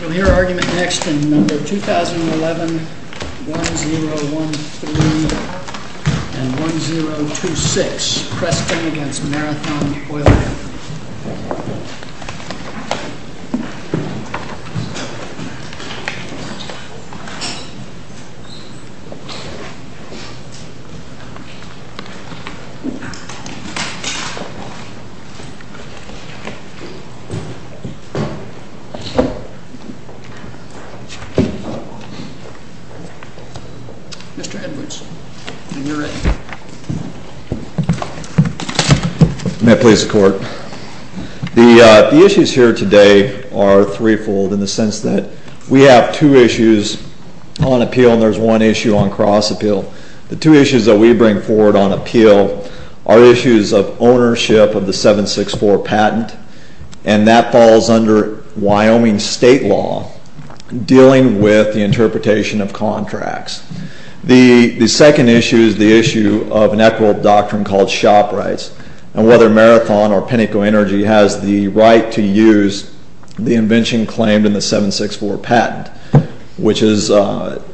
We'll hear argument next in No. 2011, 1013, and 1026, Preston v. Marathon Oil. The issues here today are three-fold in the sense that we have two issues on appeal, and there's one issue on cross-appeal. The two issues that we bring forward on appeal are issues of ownership of the 764 patent, and that falls under Wyoming state law, dealing with the interpretation of contracts. The second issue is the issue of an equitable doctrine called shop rights, and whether Marathon or Pinnacle Energy has the right to use the invention claimed in the 764 patent, which is owned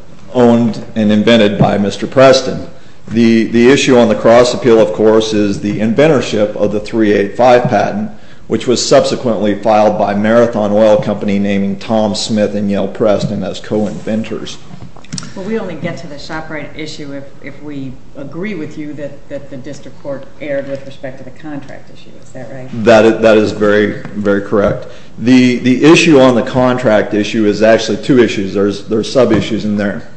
and invented by Mr. Preston. The issue on the cross-appeal, of course, is the inventorship of the 385 patent, which was subsequently filed by Marathon Oil Company, naming Tom Smith and Yale Preston as co-inventors. MS. HAYES Well, we only get to the shop right issue if we agree with you that the district court erred with respect to the contract issue. Is that right? MR. HAYES That is very, very correct. The issue on the contract issue is actually two issues. There are sub-issues in there.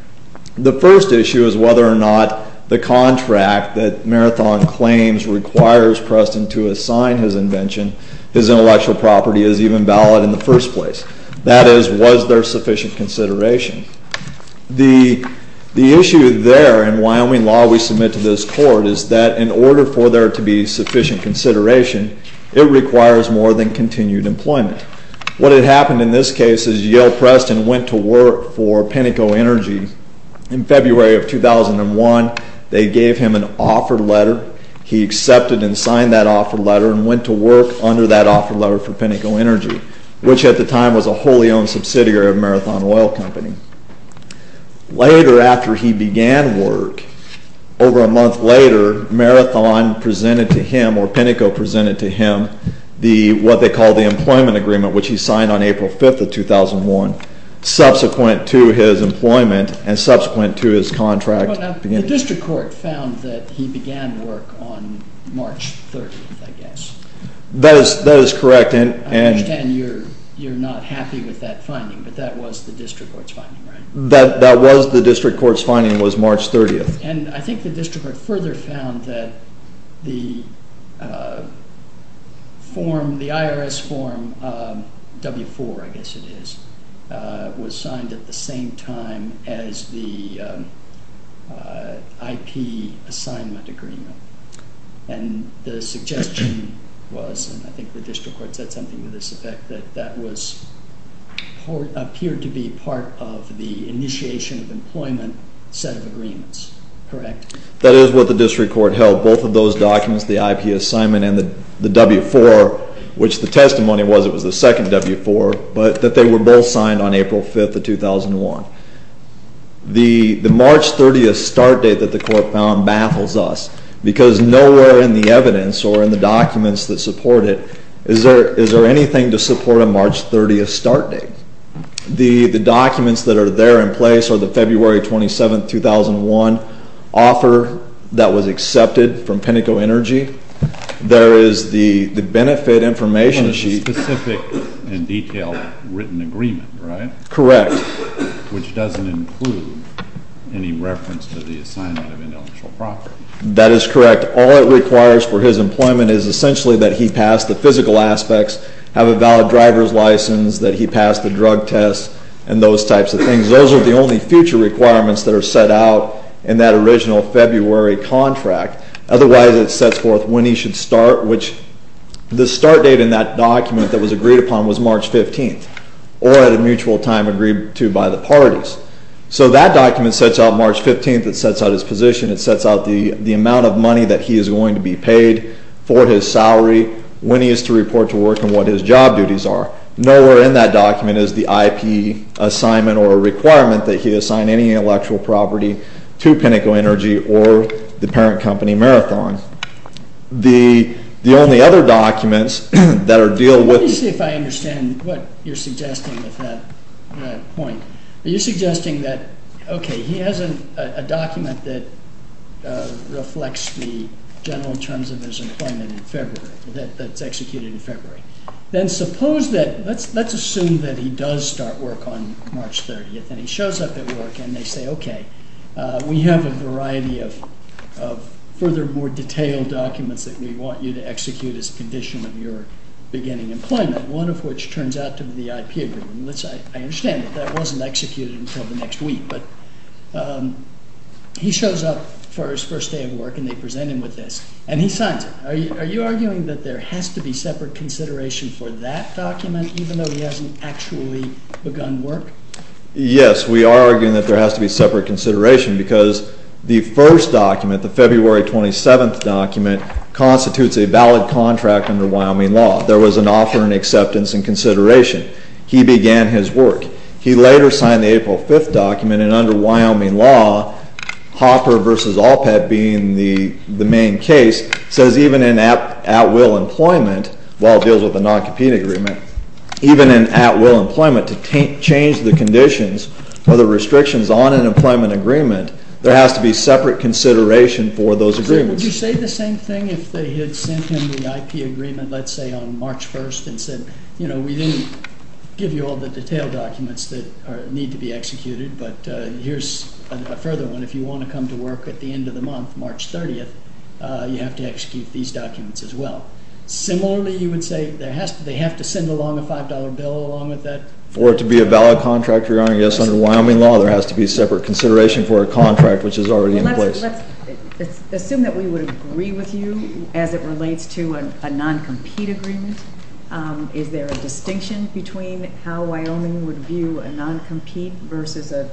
The first issue is whether or not the contract that Marathon claims requires Preston to assign his invention, his intellectual property, is even valid in the first place. That is, was there sufficient consideration? The issue there in Wyoming law we submit to this court is that in order for there to be sufficient consideration, it requires more than continued employment. What had happened in this case is Yale Preston went to work for Pinnacle Energy in February of 2001. They gave him an offer letter. He accepted and signed that offer letter and went to work under that offer letter for Pinnacle Energy, which at the time was a wholly owned subsidiary of Marathon Oil Company. Later after he began work, over a month later, Marathon presented to him or Pinnacle presented to him what they call the employment agreement, which he signed on April 5th of 2001, subsequent to his employment and subsequent to his contract. MR. HAYES The district court found that he began work on March 30th, I guess. HAYES That is correct. MR. HAYES I understand you are not happy with that finding, but that was the district court's finding, right? MR. HAYES That was the district court's finding. It was March 30th. MR. HAYES The IRS form, W-4 I guess it is, was signed at the same time as the IP assignment agreement. The suggestion was, and I think the district court said something to this effect, that that appeared to be part of the initiation of employment set of agreements, correct? MR. HAYES The W-4, which the testimony was it was the second W-4, but that they were both signed on April 5th of 2001. The March 30th start date that the court found baffles us, because nowhere in the evidence or in the documents that support it is there anything to support a March 30th start date. The documents that are there in place are the February 27th, 2001 offer that was accepted from Pinnacle Energy. There is the benefit information sheet. HAYES And the specific and detailed written agreement, right? HAYES Correct. MR. HAYES Which doesn't include any reference to the assignment of intellectual property. MR. HAYES That is correct. All it requires for his employment is essentially that he pass the physical aspects, have a valid driver's license, that he pass the drug test and those types of things. Those are the only future requirements that are set out in that original February contract. Otherwise it sets forth when he should start, which the start date in that document that was agreed upon was March 15th, or at a mutual time agreed to by the parties. So that document sets out March 15th. It sets out his position. It sets out the amount of money that he is going to be paid for his salary, when he is to report to work and what his job duties are. Nowhere in that document is the IP assignment or requirement that he assign any intellectual property to Pinnacle Energy or the parent company Marathon. The only other documents that are dealt with MR. HAYES Let me see if I understand what you are suggesting with that point. Are you suggesting that, okay, he has a document that reflects the general terms of his employment in February, that is executed in February. Then suppose that, let's assume that he does start work on March 30th and he shows up at We have a variety of further more detailed documents that we want you to execute as a condition of your beginning employment, one of which turns out to be the IP agreement. I understand that that wasn't executed until the next week, but he shows up for his first day of work and they present him with this, and he signs it. Are you arguing that there has to be separate consideration for that document, even though he hasn't actually begun work? MR. HAYES There has to be separate consideration because the first document, the February 27th document, constitutes a valid contract under Wyoming law. There was an offer and acceptance and consideration. He began his work. He later signed the April 5th document, and under Wyoming law, Hopper v. Allpet being the main case, says even in at-will employment, while it deals with a non-compete agreement, even in at-will employment, to change the conditions or the restrictions on an employment agreement, there has to be separate consideration for those agreements. GARGANO Would you say the same thing if they had sent him the IP agreement, let's say, on March 1st and said, you know, we didn't give you all the detailed documents that need to be executed, but here's a further one. If you want to come to work at the end of the month, March 30th, you have to execute these documents as well. Similarly, you would say they have to send along a $5 bill along with that? MR. GARGANO I would say there has to be separate consideration for a contract, which is already in place. GARGANO Let's assume that we would agree with you as it relates to a non-compete agreement. Is there a distinction between how Wyoming would view a non-compete versus an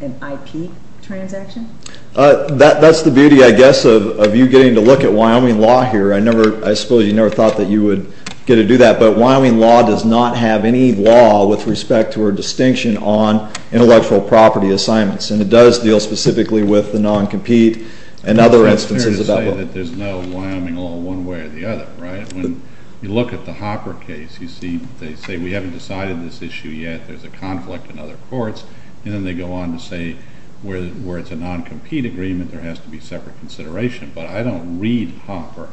IP transaction? MR. GARGANO That's the beauty, I guess, of you getting to look at Wyoming law here. I suppose you never thought that you would get to do that, but Wyoming law does not have any law with respect to a distinction on intellectual property assignments, and it does deal specifically with the non-compete and other instances. GARGANO It's fair to say that there's no Wyoming law one way or the other, right? When you look at the Hopper case, you see they say we haven't decided this issue yet, there's a conflict in other courts, and then they go on to say where it's a non-compete agreement, there has to be separate consideration. But I don't read Hopper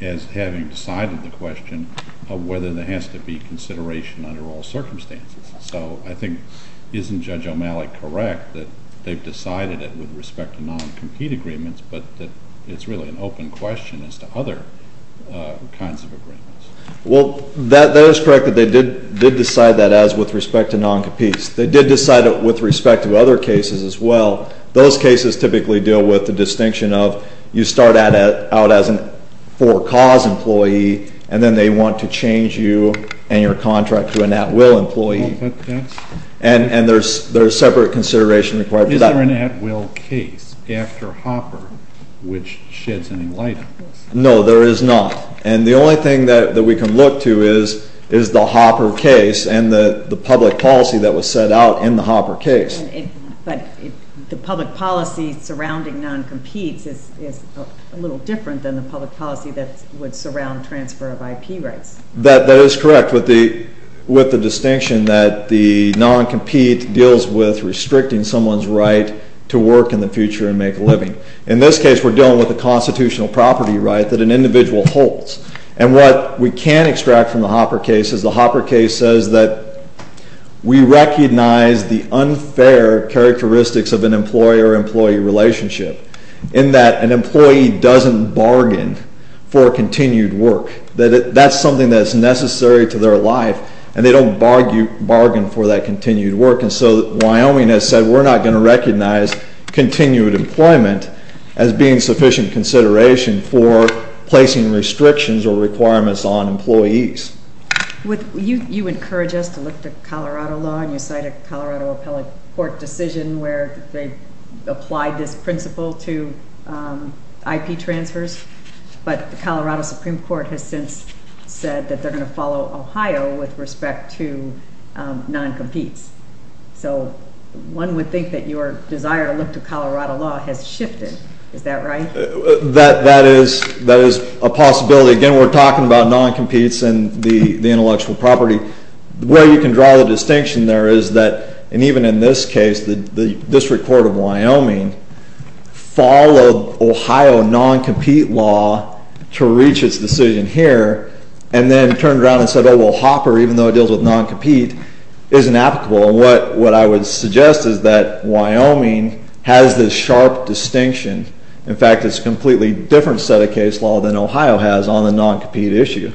as having decided the question of whether there has to be consideration under all circumstances. So I think isn't Judge O'Malley correct that they've decided it with respect to non-compete agreements, but that it's really an open question as to other kinds of agreements? MR. GARGANO Well, that is correct that they did decide that as with respect to non-competes. They did decide it with respect to other cases as well. Those cases typically deal with the distinction of you start out as a for-cause employee, and then they want to change you and your contract to an at-will employee. And there's separate consideration required for that. MR. GARGANO Is there an at-will case after Hopper which sheds any light on this? MR. GARGANO No, there is not. And the only thing that we can look to is the Hopper case and the public policy that was set out in the Hopper case. MS. MILLER But the public policy surrounding non-competes is a little different than the public policy that would surround transfer of IP rights. GARGANO That is correct with the distinction that the non-compete deals with restricting someone's right to work in the future and make a living. In this case, we're dealing with a constitutional property right that an individual holds. And what we can extract from the Hopper case is the Hopper case says that we recognize the unfair characteristics of an employer-employee relationship. In that, an employee doesn't bargain for continued work. That's something that's necessary to their life. And they don't bargain for that continued work. And so Wyoming has said we're not going to recognize continued employment as being sufficient consideration for placing restrictions or requirements on employees. MS. MILLER You encourage us to look to Colorado law. You cite a Colorado appellate court decision where they applied this principle to IP transfers. But the Colorado Supreme Court has since said that they're going to follow Ohio with respect to non-competes. So one would think that your desire to look to Colorado law has shifted. Is that right? GARGANO That is a possibility. Again, we're talking about non-competes and the intellectual property. The way you can draw the distinction there is that, and even in this case, the District Court of Wyoming followed Ohio non-compete law to reach its decision here and then turned around and said, oh, well, Hopper, even though it deals with non-compete, isn't applicable. And what I would suggest is that Wyoming has this sharp distinction. In fact, it's a completely different set of case law than Ohio has on the non-compete issue.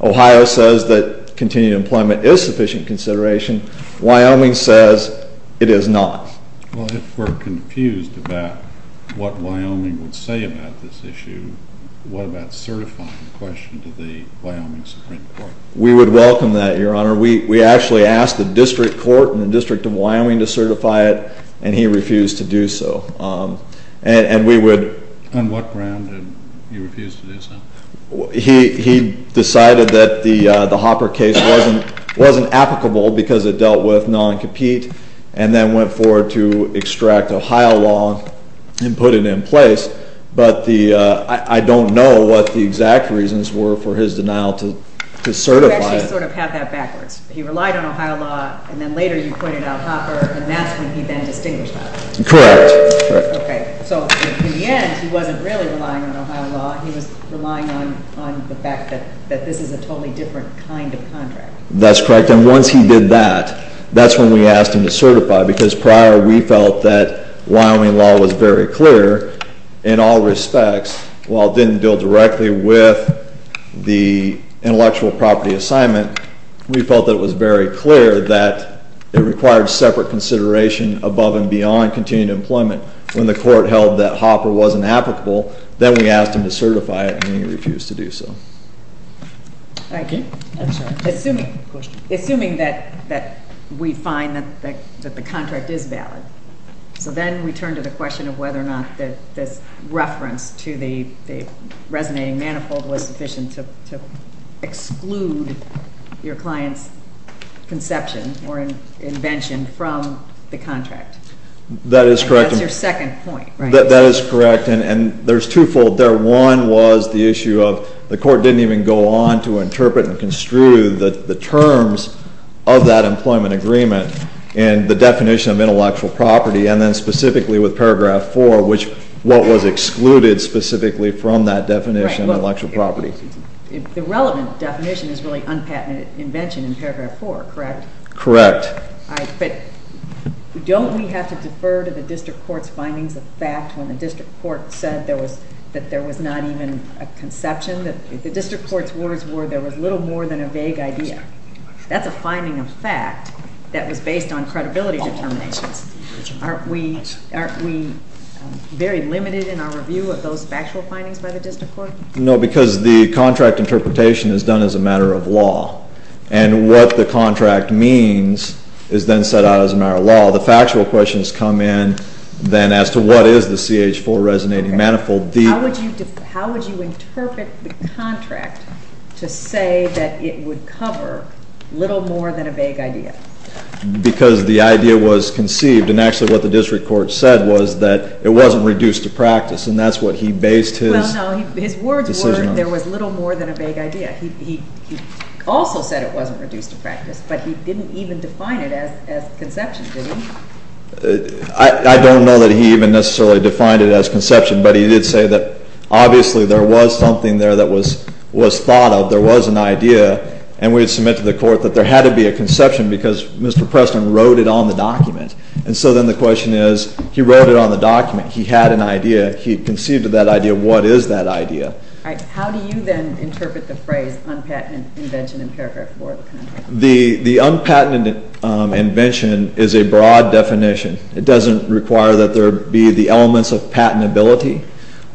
Ohio says that continued employment is sufficient consideration. Wyoming says it is not. MS. MILLER Well, if we're confused about what Wyoming would say about this issue, what about certifying the question to the Wyoming Supreme Court? GARGANO We would welcome that, Your Honor. We actually asked the District Court and the District of Wyoming to certify it, and he refused to do so. And we would... MS. MILLER On what ground did he refuse to do so? GARGANO He decided that the Hopper case wasn't applicable because it dealt with non-compete and then went forward to extract Ohio law and put it in place. But I don't know what the exact reasons were for his denial to certify it. MS. MILLER You actually sort of have that backwards. He relied on Ohio law, and then later you pointed out Hopper, and that's when he then distinguished that. GARGANO Correct. MS. MILLER So in the end, he wasn't really relying on Ohio law. He was relying on the fact that this is a totally different kind of contract. GARGANO That's correct, and once he did that, that's when we asked him to certify because prior we felt that Wyoming law was very clear in all respects. While it didn't deal directly with the intellectual property assignment, we felt that it was very clear that it required separate consideration above and beyond continued employment when the court held that Hopper wasn't applicable. Then we asked him to certify it, and he refused to do so. MS. MILLER Thank you. Assuming that we find that the contract is valid, so then we turn to the question of whether or not this reference to the resonating manifold was sufficient to exclude your client's conception or invention from the contract. GARGANO That is correct. MS. MILLER And that's your second point, right? GARGANO That is correct, and there's twofold there. One was the issue of the court didn't even go on to interpret and construe the terms of that employment agreement and the definition of intellectual property, and then specifically with Paragraph 4, which was excluded specifically from that definition of intellectual property. MS. MILLER The relevant definition is really unpatented invention in Paragraph 4, correct? GARGANO Correct. MS. MILLER But don't we have to defer to the district court's findings of fact when the district court said that there was not even a conception? The district court's words were there was little more than a vague idea. That's a finding of fact that was based on credibility determinations. Aren't we very limited in our review of those factual findings by the district court? GARGANO No, because the contract interpretation is done as a matter of law, and what the contract means is then set out as a matter of law. The factual questions come in then as to what is the CH-4 resonating manifold. MS. MILLER Okay. How would you interpret the contract to say that it would cover little more than a vague idea? GARGANO Because the idea was conceived, and actually what the district court said was that it wasn't reduced to practice, and that's what he based his decision on. MS. MILLER Well, no, his words were there was little more than a vague idea. He also said it wasn't reduced to practice, but he didn't even define it as conception, did he? GARGANO I don't know that he even necessarily defined it as conception, but he did say that obviously there was something there that was thought of. There was an idea, and we had submitted to the court that there had to be a conception because Mr. Preston wrote it on the document. And so then the question is he wrote it on the document. He had an idea. He conceived of that idea. What is that idea? MS. MILLER All right. How do you then interpret the phrase unpatented invention in paragraph 4 of the contract? GARGANO The unpatented invention is a broad definition. It doesn't require that there be the elements of patentability.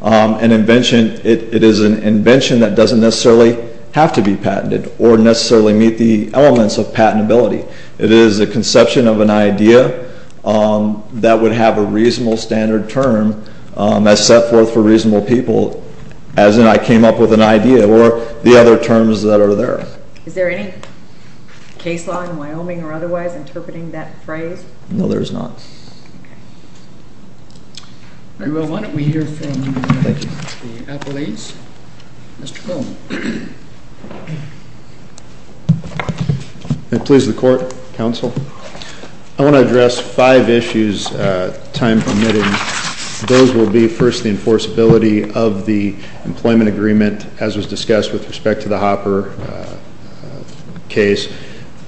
An invention, it is an invention that doesn't necessarily have to be patented or necessarily meet the elements of patentability. It is a conception of an idea that would have a reasonable standard term as set forth for reasonable people, as in I came up with an idea, or the other terms that are there. MS. MILLER Is there any case law in Wyoming or otherwise interpreting that phrase? GARGANO No, there is not. MS. MILLER Okay. We will want to hear from the appellates. Mr. Cohn. MR. COHN May it please the Court, Counsel. I want to address five issues, time permitting. Those will be, first, the enforceability of the employment agreement, as was discussed with respect to the Hopper case.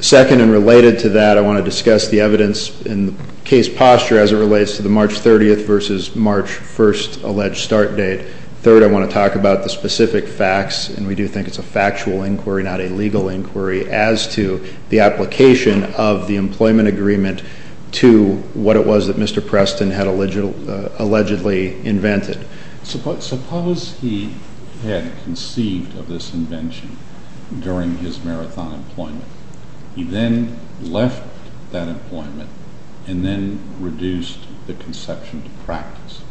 Second, and related to that, I want to discuss the evidence in the case posture as it relates to the March 30th versus March 1st alleged start date. Third, I want to talk about the specific facts, and we do think it's a factual inquiry, not a legal inquiry, as to the application of the employment agreement to what it was that Mr. Preston had allegedly invented. CHIEF JUSTICE ROBERTS Suppose he had conceived of this invention during his Marathon employment. He then left that employment and then reduced the conception to practice.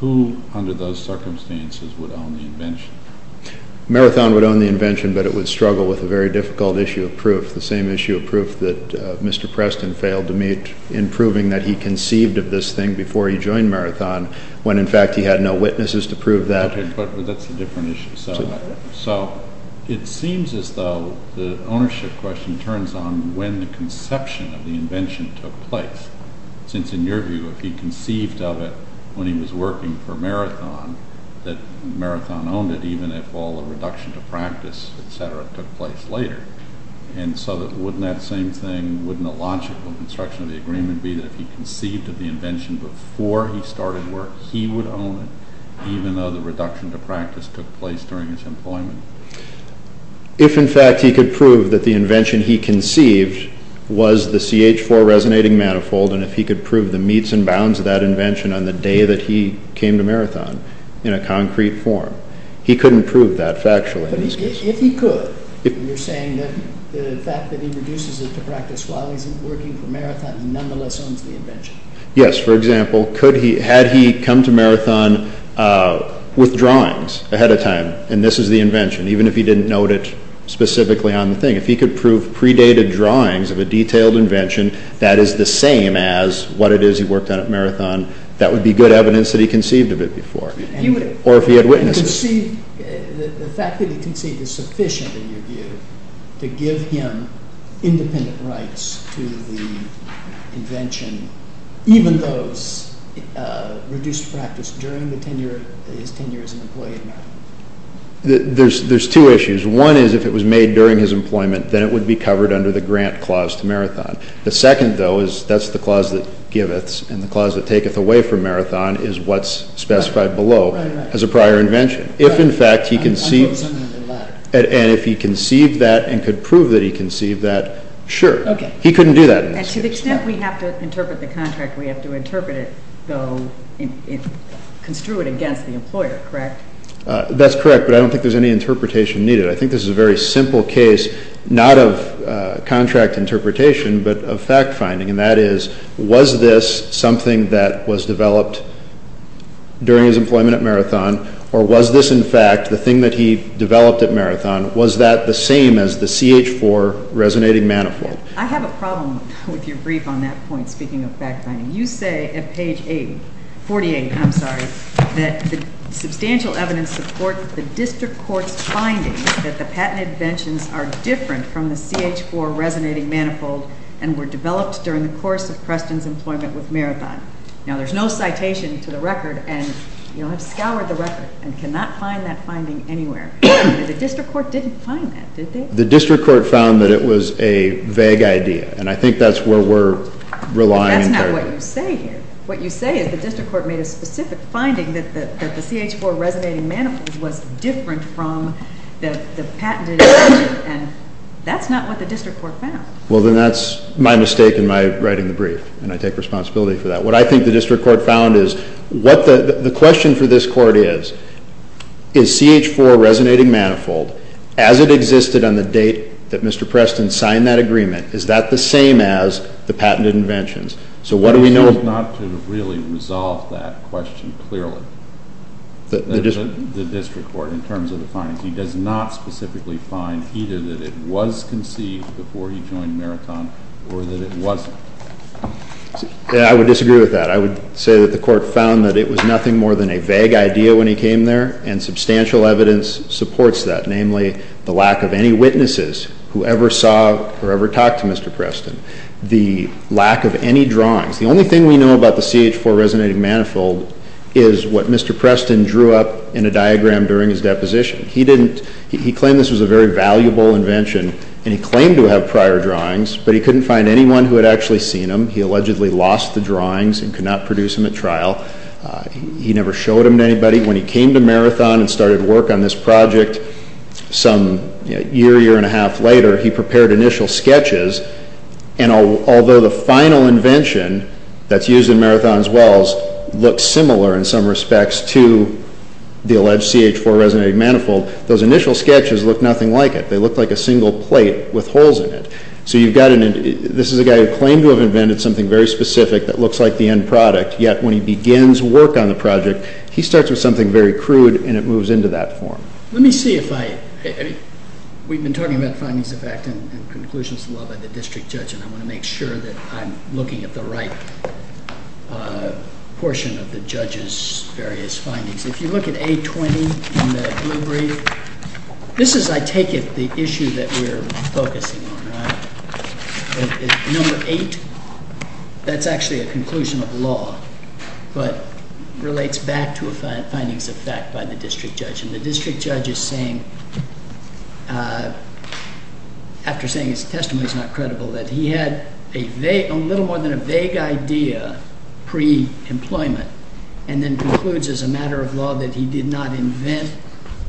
Who, under those circumstances, would own the invention? MR. COHN Marathon would own the invention, but it would struggle with a very difficult issue of proof, the same issue of proof that Mr. Preston failed to meet in proving that he conceived of this thing before he joined Marathon when, in fact, he had no witnesses to prove that. CHIEF JUSTICE ROBERTS Okay, but that's a different issue. So it seems as though the ownership question turns on when the conception of the invention took place, since, in your view, if he conceived of it when he was working for Marathon, that Marathon owned it even if all the reduction to practice, et cetera, took place later. And so wouldn't that same thing, wouldn't the logical construction of the agreement be that if he conceived of the invention before he started work, he would own it, even though the reduction to practice took place during his employment? MR. COHN If, in fact, he could prove that the invention he conceived was the CH4 resonating manifold and if he could prove the meets and bounds of that invention on the day that he came to Marathon in a concrete form, he couldn't prove that factually. CHIEF JUSTICE ROBERTS But if he could, you're saying that the fact that he reduces it to practice while he's working for Marathon nonetheless owns the invention. MR. COHN Yes, for example, had he come to Marathon with drawings ahead of time, and this is the invention, even if he didn't note it specifically on the thing, if he could prove predated drawings of a detailed invention that is the same as what it is he worked on at Marathon, that would be good evidence that he conceived of it before, or if he had witnesses. CHIEF JUSTICE ROBERTS The fact that he conceived is sufficient, in your view, to give him independent rights to the invention, even though it's reduced to practice during his tenure as an employee at Marathon. MR. COHN There's two issues. One is if it was made during his employment, then it would be covered under the grant clause to Marathon. The second, though, is that's the clause that giveths, and the clause that taketh away from Marathon is what's specified below as a prior invention. If, in fact, he conceived that and could prove that he conceived that, sure. He couldn't do that in this case. CHIEF JUSTICE ROBERTS And to the extent we have to interpret the contract, we have to interpret it, though, construe it against the employer, correct? MR. COHN That's correct, but I don't think there's any interpretation needed. I think this is a very simple case, not of contract interpretation, but of fact-finding, and that is was this something that was developed during his employment at Marathon, or was this, in fact, the thing that he developed at Marathon? Was that the same as the CH-4 resonating manifold? MS. MOSS I have a problem with your brief on that point, speaking of fact-finding. You say at page 48 that the substantial evidence supports the district court's finding that the patent inventions are different from the CH-4 resonating manifold and were developed during the course of Preston's employment with Marathon. Now, there's no citation to the record, and you'll have scoured the record and cannot find that finding anywhere, but the district court didn't find that, did they? MR. COHN The district court found that it was a vague idea, and I think that's where we're relying entirely. MS. MOSS What you say here, what you say is the district court made a specific finding that the CH-4 resonating manifold was different from the patented invention, and that's not what the district court found. MR. COHN Well, then that's my mistake in my writing the brief, and I take responsibility for that. What I think the district court found is what the question for this court is, is CH-4 resonating manifold, as it existed on the date that Mr. Preston signed that agreement, is that the same as the patented inventions? So what do we know? MR. MILLER Not to really resolve that question clearly, the district court, in terms of the findings. He does not specifically find either that it was conceived before he joined Marathon or that it wasn't. MR. COHN I would disagree with that. I would say that the court found that it was nothing more than a vague idea when he came there, and substantial evidence supports that, namely the lack of any witnesses who ever saw or ever talked to Mr. Preston, the lack of any drawings. The only thing we know about the CH-4 resonating manifold is what Mr. Preston drew up in a diagram during his deposition. He claimed this was a very valuable invention, and he claimed to have prior drawings, but he couldn't find anyone who had actually seen them. He allegedly lost the drawings and could not produce them at trial. He never showed them to anybody. When he came to Marathon and started work on this project, some year, year and a half later, he prepared initial sketches, and although the final invention that's used in Marathon's wells looks similar in some respects to the alleged CH-4 resonating manifold, those initial sketches look nothing like it. They look like a single plate with holes in it. So this is a guy who claimed to have invented something very specific that looks like the end product, yet when he begins work on the project, he starts with something very crude, and it moves into that form. Let me see if I... we've been talking about findings of fact and conclusions of law by the district judge, and I want to make sure that I'm looking at the right portion of the judge's various findings. If you look at A-20 in the blue brief, this is, I take it, the issue that we're focusing on, right? Number 8, that's actually a conclusion of law, but relates back to a findings of fact by the district judge, and the district judge is saying, after saying his testimony is not credible, that he had a little more than a vague idea pre-employment, and then concludes as a matter of law that he did not invent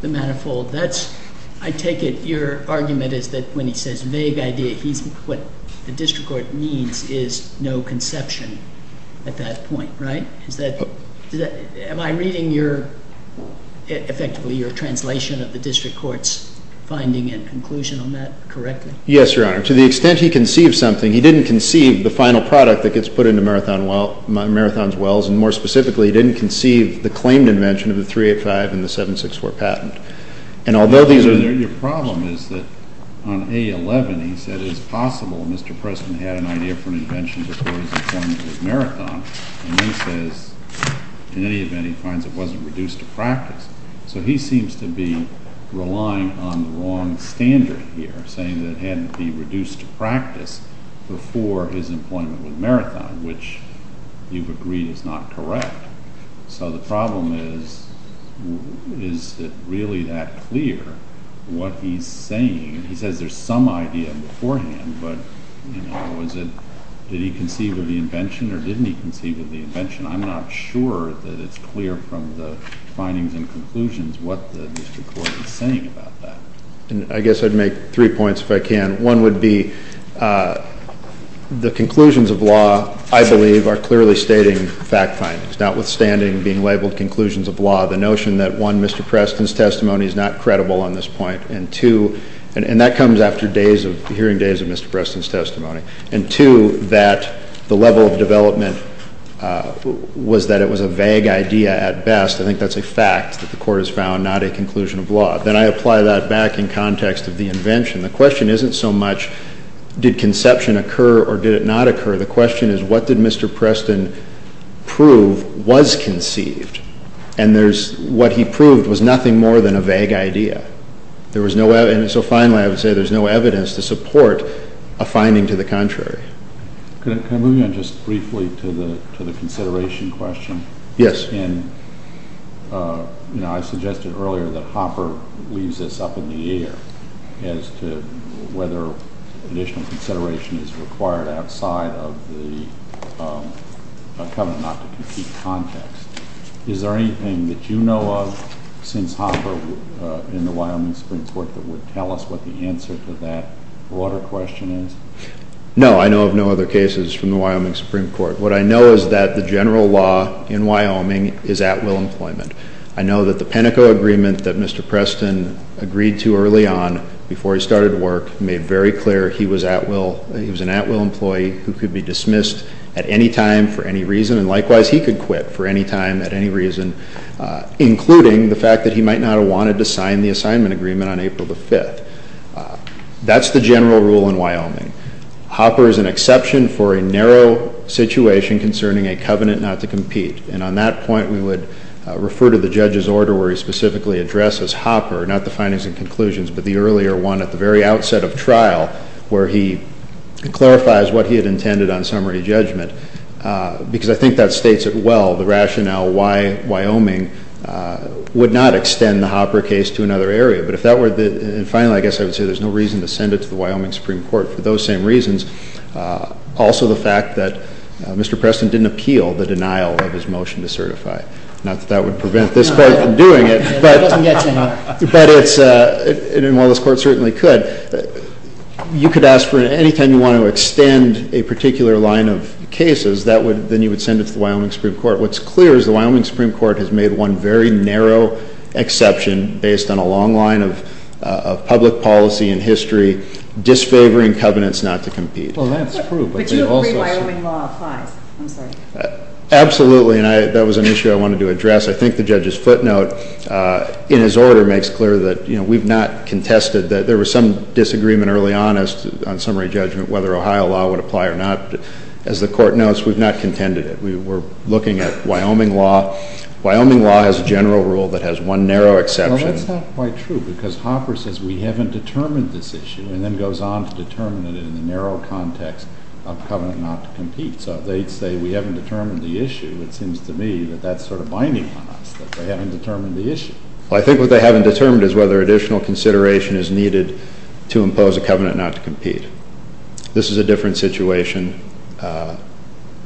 the manifold. That's, I take it, your argument is that when he says vague idea, he's... what the district court needs is no conception at that point, right? Is that... am I reading your... effectively your translation of the district court's finding and conclusion on that correctly? Yes, Your Honor. To the extent he conceived something, he didn't conceive the final product that gets put into Marathon's wells, and more specifically, he didn't conceive the claimed invention of the 385 and the 764 patent. And although these are... Your problem is that on A-11, he said it is possible Mr. Preston had an idea for an invention before his appointment with Marathon, and then says, in any event, he finds it wasn't reduced to practice. So he seems to be relying on the wrong standard here, saying that it had to be reduced to practice before his appointment with Marathon, which you've agreed is not correct. So the problem is, is it really that clear what he's saying? He says there's some idea beforehand, but, you know, was it... the invention or didn't he conceive of the invention? I'm not sure that it's clear from the findings and conclusions what the district court is saying about that. I guess I'd make three points if I can. One would be the conclusions of law, I believe, are clearly stating fact findings, notwithstanding being labeled conclusions of law. The notion that, one, Mr. Preston's testimony is not credible on this point, and two... and that comes after days of... hearing days of Mr. Preston's testimony. And, two, that the level of development was that it was a vague idea at best. I think that's a fact that the court has found, not a conclusion of law. Then I apply that back in context of the invention. The question isn't so much, did conception occur or did it not occur? The question is, what did Mr. Preston prove was conceived? And there's... what he proved was nothing more than a vague idea. There was no... and so, finally, I would say there's no evidence to support a finding to the contrary. Can I move you on just briefly to the consideration question? Yes. And, you know, I suggested earlier that Hopper leaves this up in the air as to whether additional consideration is required outside of the covenant not to compete context. Is there anything that you know of since Hopper in the Wyoming Supreme Court that would tell us what the answer to that broader question is? No, I know of no other cases from the Wyoming Supreme Court. What I know is that the general law in Wyoming is at-will employment. I know that the Penteco agreement that Mr. Preston agreed to early on, before he started work, made very clear he was at-will... including the fact that he might not have wanted to sign the assignment agreement on April the 5th. That's the general rule in Wyoming. Hopper is an exception for a narrow situation concerning a covenant not to compete. And, on that point, we would refer to the judge's order where he specifically addresses Hopper... not the findings and conclusions, but the earlier one at the very outset of trial... where he clarifies what he had intended on summary judgment. Because, I think that states it well, the rationale why Wyoming would not extend the Hopper case to another area. But, if that were the... and finally, I guess I would say there's no reason to send it to the Wyoming Supreme Court. For those same reasons, also the fact that Mr. Preston didn't appeal the denial of his motion to certify. Not that that would prevent this court from doing it, but... It doesn't get to him. But, it's... and while this court certainly could... You could ask for... anytime you want to extend a particular line of cases... that would... then you would send it to the Wyoming Supreme Court. What's clear is the Wyoming Supreme Court has made one very narrow exception... based on a long line of public policy and history... disfavoring covenants not to compete. Well, that's true. But, you agree Wyoming law applies. I'm sorry. Absolutely. And, that was an issue I wanted to address. I think the judge's footnote in his order makes clear that, you know, we've not contested... There was some disagreement early on on summary judgment whether Ohio law would apply or not. As the court knows, we've not contended it. We were looking at Wyoming law. Wyoming law has a general rule that has one narrow exception. Well, that's not quite true because Hopper says we haven't determined this issue... and then goes on to determine it in the narrow context of covenant not to compete. So, they'd say we haven't determined the issue. It seems to me that that's sort of binding on us, that they haven't determined the issue. Well, I think what they haven't determined is whether additional consideration is needed to impose a covenant not to compete. This is a different situation.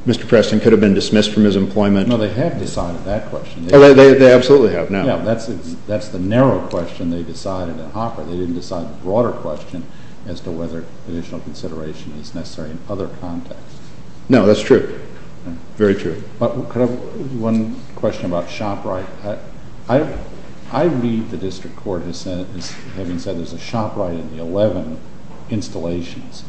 Mr. Preston could have been dismissed from his employment. No, they have decided that question. Oh, they absolutely have now. Yeah, that's the narrow question they decided in Hopper. They didn't decide the broader question as to whether additional consideration is necessary in other contexts. No, that's true. Very true. Could I have one question about ShopRite? I read the district court having said there's a ShopRite in the 11 installations,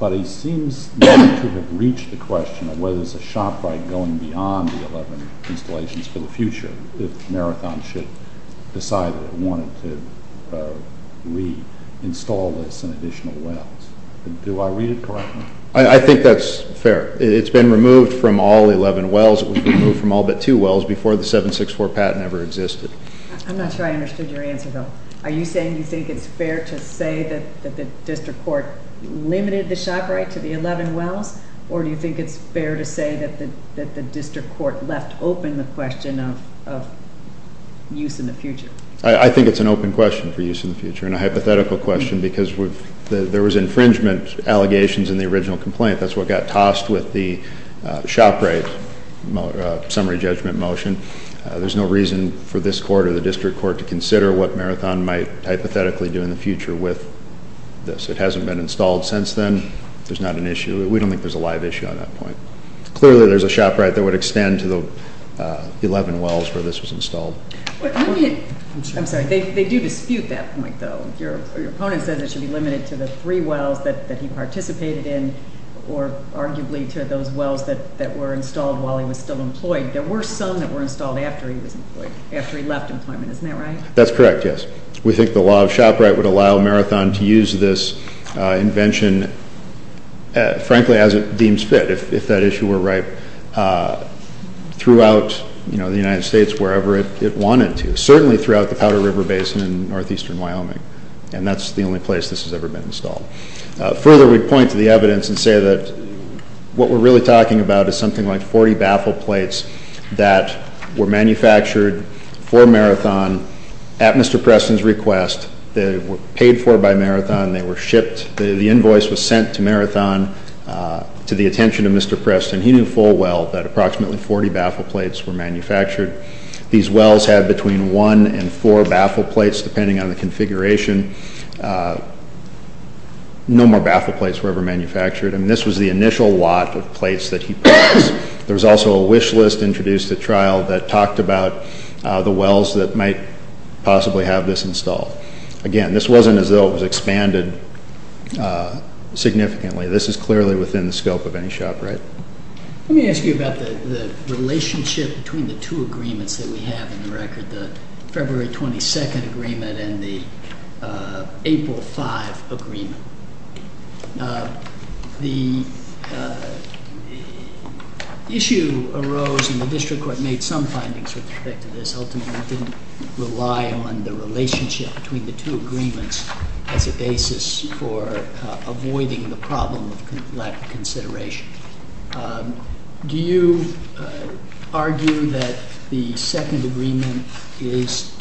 but it seems not to have reached the question of whether there's a ShopRite going beyond the 11 installations for the future, if Marathon should decide it wanted to re-install this in additional wells. Do I read it correctly? I think that's fair. It's been removed from all 11 wells. It was removed from all but two wells before the 764 patent ever existed. I'm not sure I understood your answer, though. Are you saying you think it's fair to say that the district court limited the ShopRite to the 11 wells, or do you think it's fair to say that the district court left open the question of use in the future? I think it's an open question for use in the future and a hypothetical question because there was infringement allegations in the original complaint. That's what got tossed with the ShopRite summary judgment motion. There's no reason for this court or the district court to consider what Marathon might hypothetically do in the future with this. It hasn't been installed since then. There's not an issue. We don't think there's a live issue on that point. Clearly, there's a ShopRite that would extend to the 11 wells where this was installed. I'm sorry. They do dispute that point, though. Your opponent says it should be limited to the three wells that he participated in or arguably to those wells that were installed while he was still employed. There were some that were installed after he was employed, after he left employment. Isn't that right? That's correct, yes. We think the law of ShopRite would allow Marathon to use this invention, frankly, as it deems fit, if that issue were right, throughout the United States wherever it wanted to, certainly throughout the Powder River Basin in northeastern Wyoming, and that's the only place this has ever been installed. Further, we point to the evidence and say that what we're really talking about is something like 40 baffle plates that were manufactured for Marathon at Mr. Preston's request. They were paid for by Marathon. They were shipped. The invoice was sent to Marathon to the attention of Mr. Preston. He knew full well that approximately 40 baffle plates were manufactured. These wells had between one and four baffle plates depending on the configuration. No more baffle plates were ever manufactured. And this was the initial lot of plates that he purchased. There was also a wish list introduced at trial that talked about the wells that might possibly have this installed. Again, this wasn't as though it was expanded significantly. This is clearly within the scope of any ShopRite. Let me ask you about the relationship between the two agreements that we have in the record, the February 22nd agreement and the April 5 agreement. The issue arose and the district court made some findings with respect to this. Ultimately, it didn't rely on the relationship between the two agreements as a basis for avoiding the problem of lack of consideration. Do you argue that the second agreement is,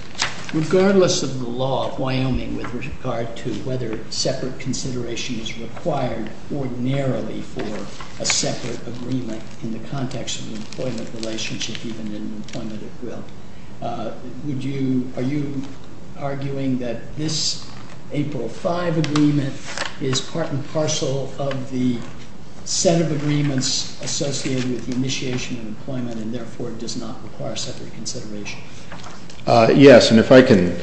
regardless of the law of Wyoming, with regard to whether separate consideration is required ordinarily for a separate agreement in the context of the employment relationship, even in employment at will? Are you arguing that this April 5 agreement is part and parcel of the set of agreements associated with the initiation of employment and therefore does not require separate consideration? Yes, and if I can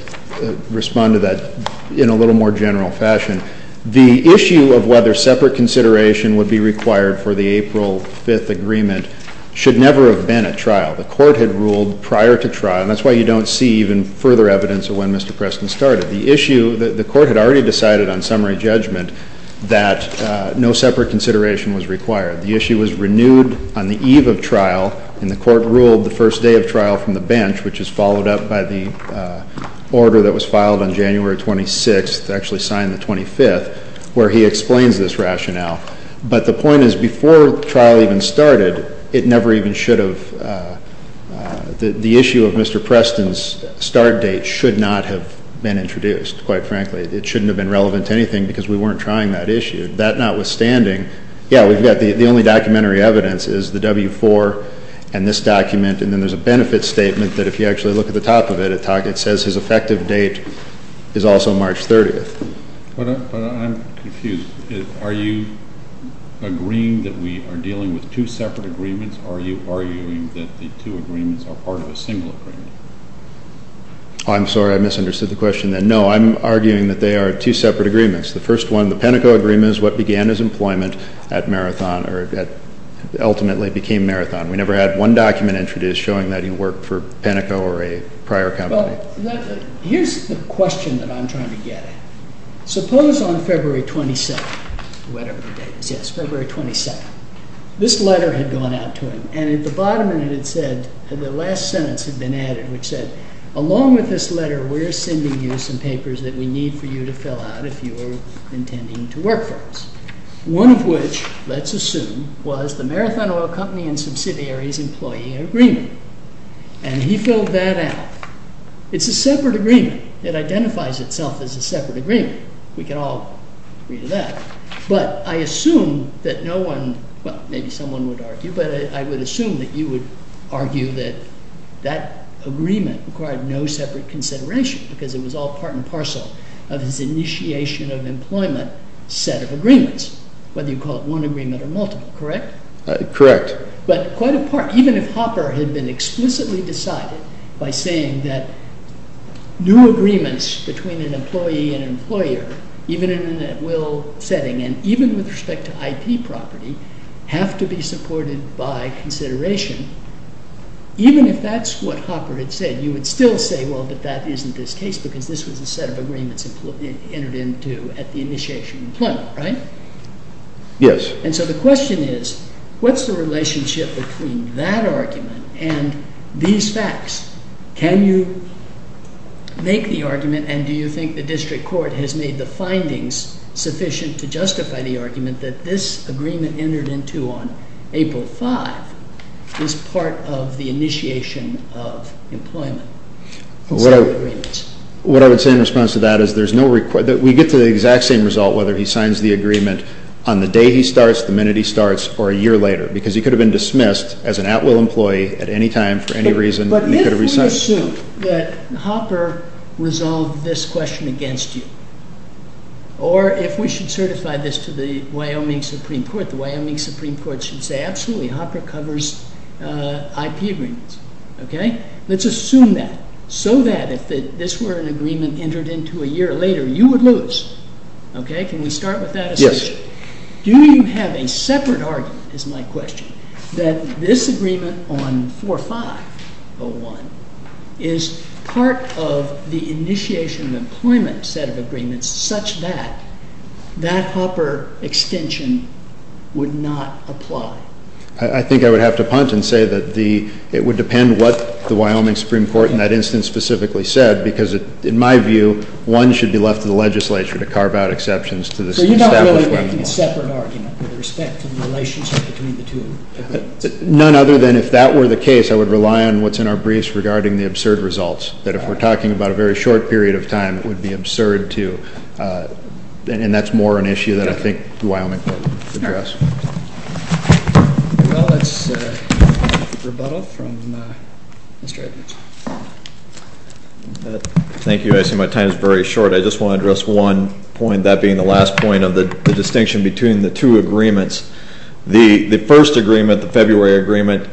respond to that in a little more general fashion. The issue of whether separate consideration would be required for the April 5 agreement should never have been at trial. The court had ruled prior to trial, and that's why you don't see even further evidence of when Mr. Preston started. The issue, the court had already decided on summary judgment that no separate consideration was required. The issue was renewed on the eve of trial, and the court ruled the first day of trial from the bench, which is followed up by the order that was filed on January 26th, actually signed the 25th, where he explains this rationale. But the point is, before the trial even started, it never even should have, the issue of Mr. Preston's start date should not have been introduced, quite frankly. It shouldn't have been relevant to anything because we weren't trying that issue. That notwithstanding, yeah, we've got the only documentary evidence is the W-4 and this document, and then there's a benefit statement that if you actually look at the top of it, it says his effective date is also March 30th. But I'm confused. Are you agreeing that we are dealing with two separate agreements, or are you arguing that the two agreements are part of a single agreement? I'm sorry, I misunderstood the question then. No, I'm arguing that they are two separate agreements. The first one, the Penteco agreement is what began his employment at Marathon, or ultimately became Marathon. We never had one document introduced showing that he worked for Penteco or a prior company. Here's the question that I'm trying to get at. Suppose on February 27th, whatever the date is, yes, February 27th, this letter had gone out to him, and at the bottom of it it said, the last sentence had been added, which said, along with this letter, we're sending you some papers that we need for you to fill out if you are intending to work for us. One of which, let's assume, was the Marathon Oil Company and Subsidiaries Employee Agreement, and he filled that out. It's a separate agreement. It identifies itself as a separate agreement. We can all agree to that. But I assume that no one, well, maybe someone would argue, but I would assume that you would argue that that agreement required no separate consideration because it was all part and parcel of his initiation of employment set of agreements, whether you call it one agreement or multiple, correct? Correct. But quite a part, even if Hopper had been explicitly decided by saying that new agreements between an employee and employer, even in an at-will setting and even with respect to IP property, have to be supported by consideration, even if that's what Hopper had said, you would still say, well, but that isn't this case because this was a set of agreements entered into at the initiation of employment, right? Yes. And so the question is, what's the relationship between that argument and these facts? Can you make the argument, and do you think the district court has made the findings sufficient to justify the argument that this agreement entered into on April 5th is part of the initiation of employment set of agreements? What I would say in response to that is there's no required, that we get to the exact same result, whether he signs the agreement on the day he starts, the minute he starts, or a year later, because he could have been dismissed as an at-will employee at any time for any reason. But if we assume that Hopper resolved this question against you, or if we should certify this to the Wyoming Supreme Court, the Wyoming Supreme Court should say, absolutely, Hopper covers IP agreements. Okay? Let's assume that, so that if this were an agreement entered into a year later, you would lose. Can we start with that assumption? Yes. Do you have a separate argument, is my question, that this agreement on 4501 is part of the initiation of employment set of agreements such that that Hopper extension would not apply? I think I would have to punt and say that it would depend what the Wyoming Supreme Court in that instance specifically said, because in my view, one should be left to the legislature to carve out exceptions to this established weapon law. Do you have a separate argument with respect to the relationship between the two agreements? None other than if that were the case, I would rely on what's in our briefs regarding the absurd results, that if we're talking about a very short period of time, it would be absurd to, and that's more an issue that I think the Wyoming court would address. Well, that's a rebuttal from Mr. Edwards. Thank you. I see my time is very short. I just want to address one point, that being the last point of the distinction between the two agreements. The first agreement, the February agreement,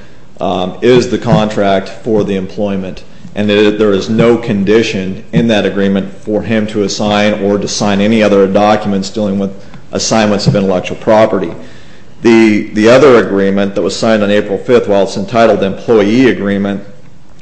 is the contract for the employment, and there is no condition in that agreement for him to assign or to sign any other documents dealing with assignments of intellectual property. The other agreement that was signed on April 5th, while it's entitled the employee agreement,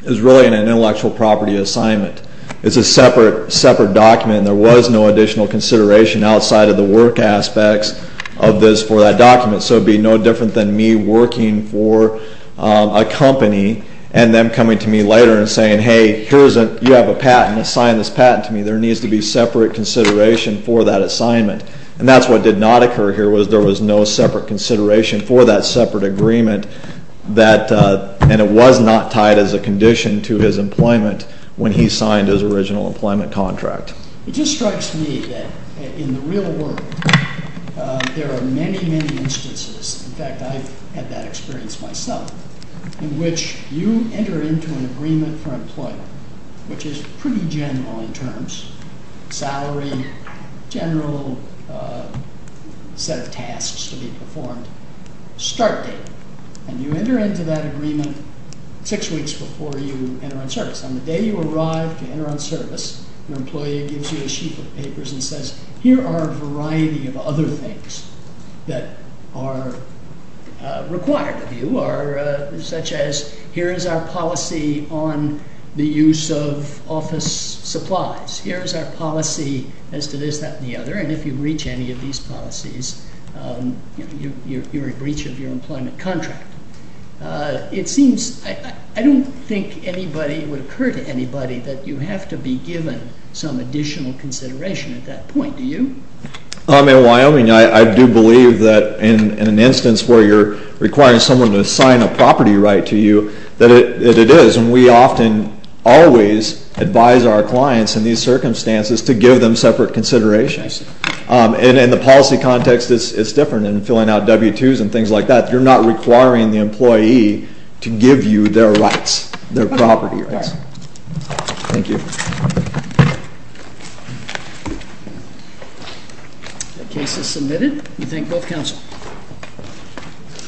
is really an intellectual property assignment. It's a separate document, and there was no additional consideration outside of the work aspects of this for that document. So it would be no different than me working for a company, and them coming to me later and saying, hey, you have a patent, sign this patent to me. There needs to be separate consideration for that assignment. And that's what did not occur here, was there was no separate consideration for that separate agreement, and it was not tied as a condition to his employment when he signed his original employment contract. It just strikes me that in the real world, there are many, many instances, in fact, I've had that experience myself, in which you enter into an agreement for employment, which is pretty general in terms, salary, general set of tasks to be performed, start date, and you enter into that agreement six weeks before you enter on service. On the day you arrive to enter on service, an employee gives you a sheet of papers and says, here are a variety of other things that are required of you, such as, here is our policy on the use of office supplies, here is our policy as to this, that, and the other, and if you breach any of these policies, you're in breach of your employment contract. It seems, I don't think anybody would occur to anybody that you have to be given some additional consideration at that point, do you? In Wyoming, I do believe that in an instance where you're requiring someone to sign a property right to you, that it is, and we often always advise our clients in these circumstances to give them separate considerations. And in the policy context, it's different. In filling out W-2s and things like that, you're not requiring the employee to give you their rights, their property rights. Thank you. The case is submitted. We thank both counsel.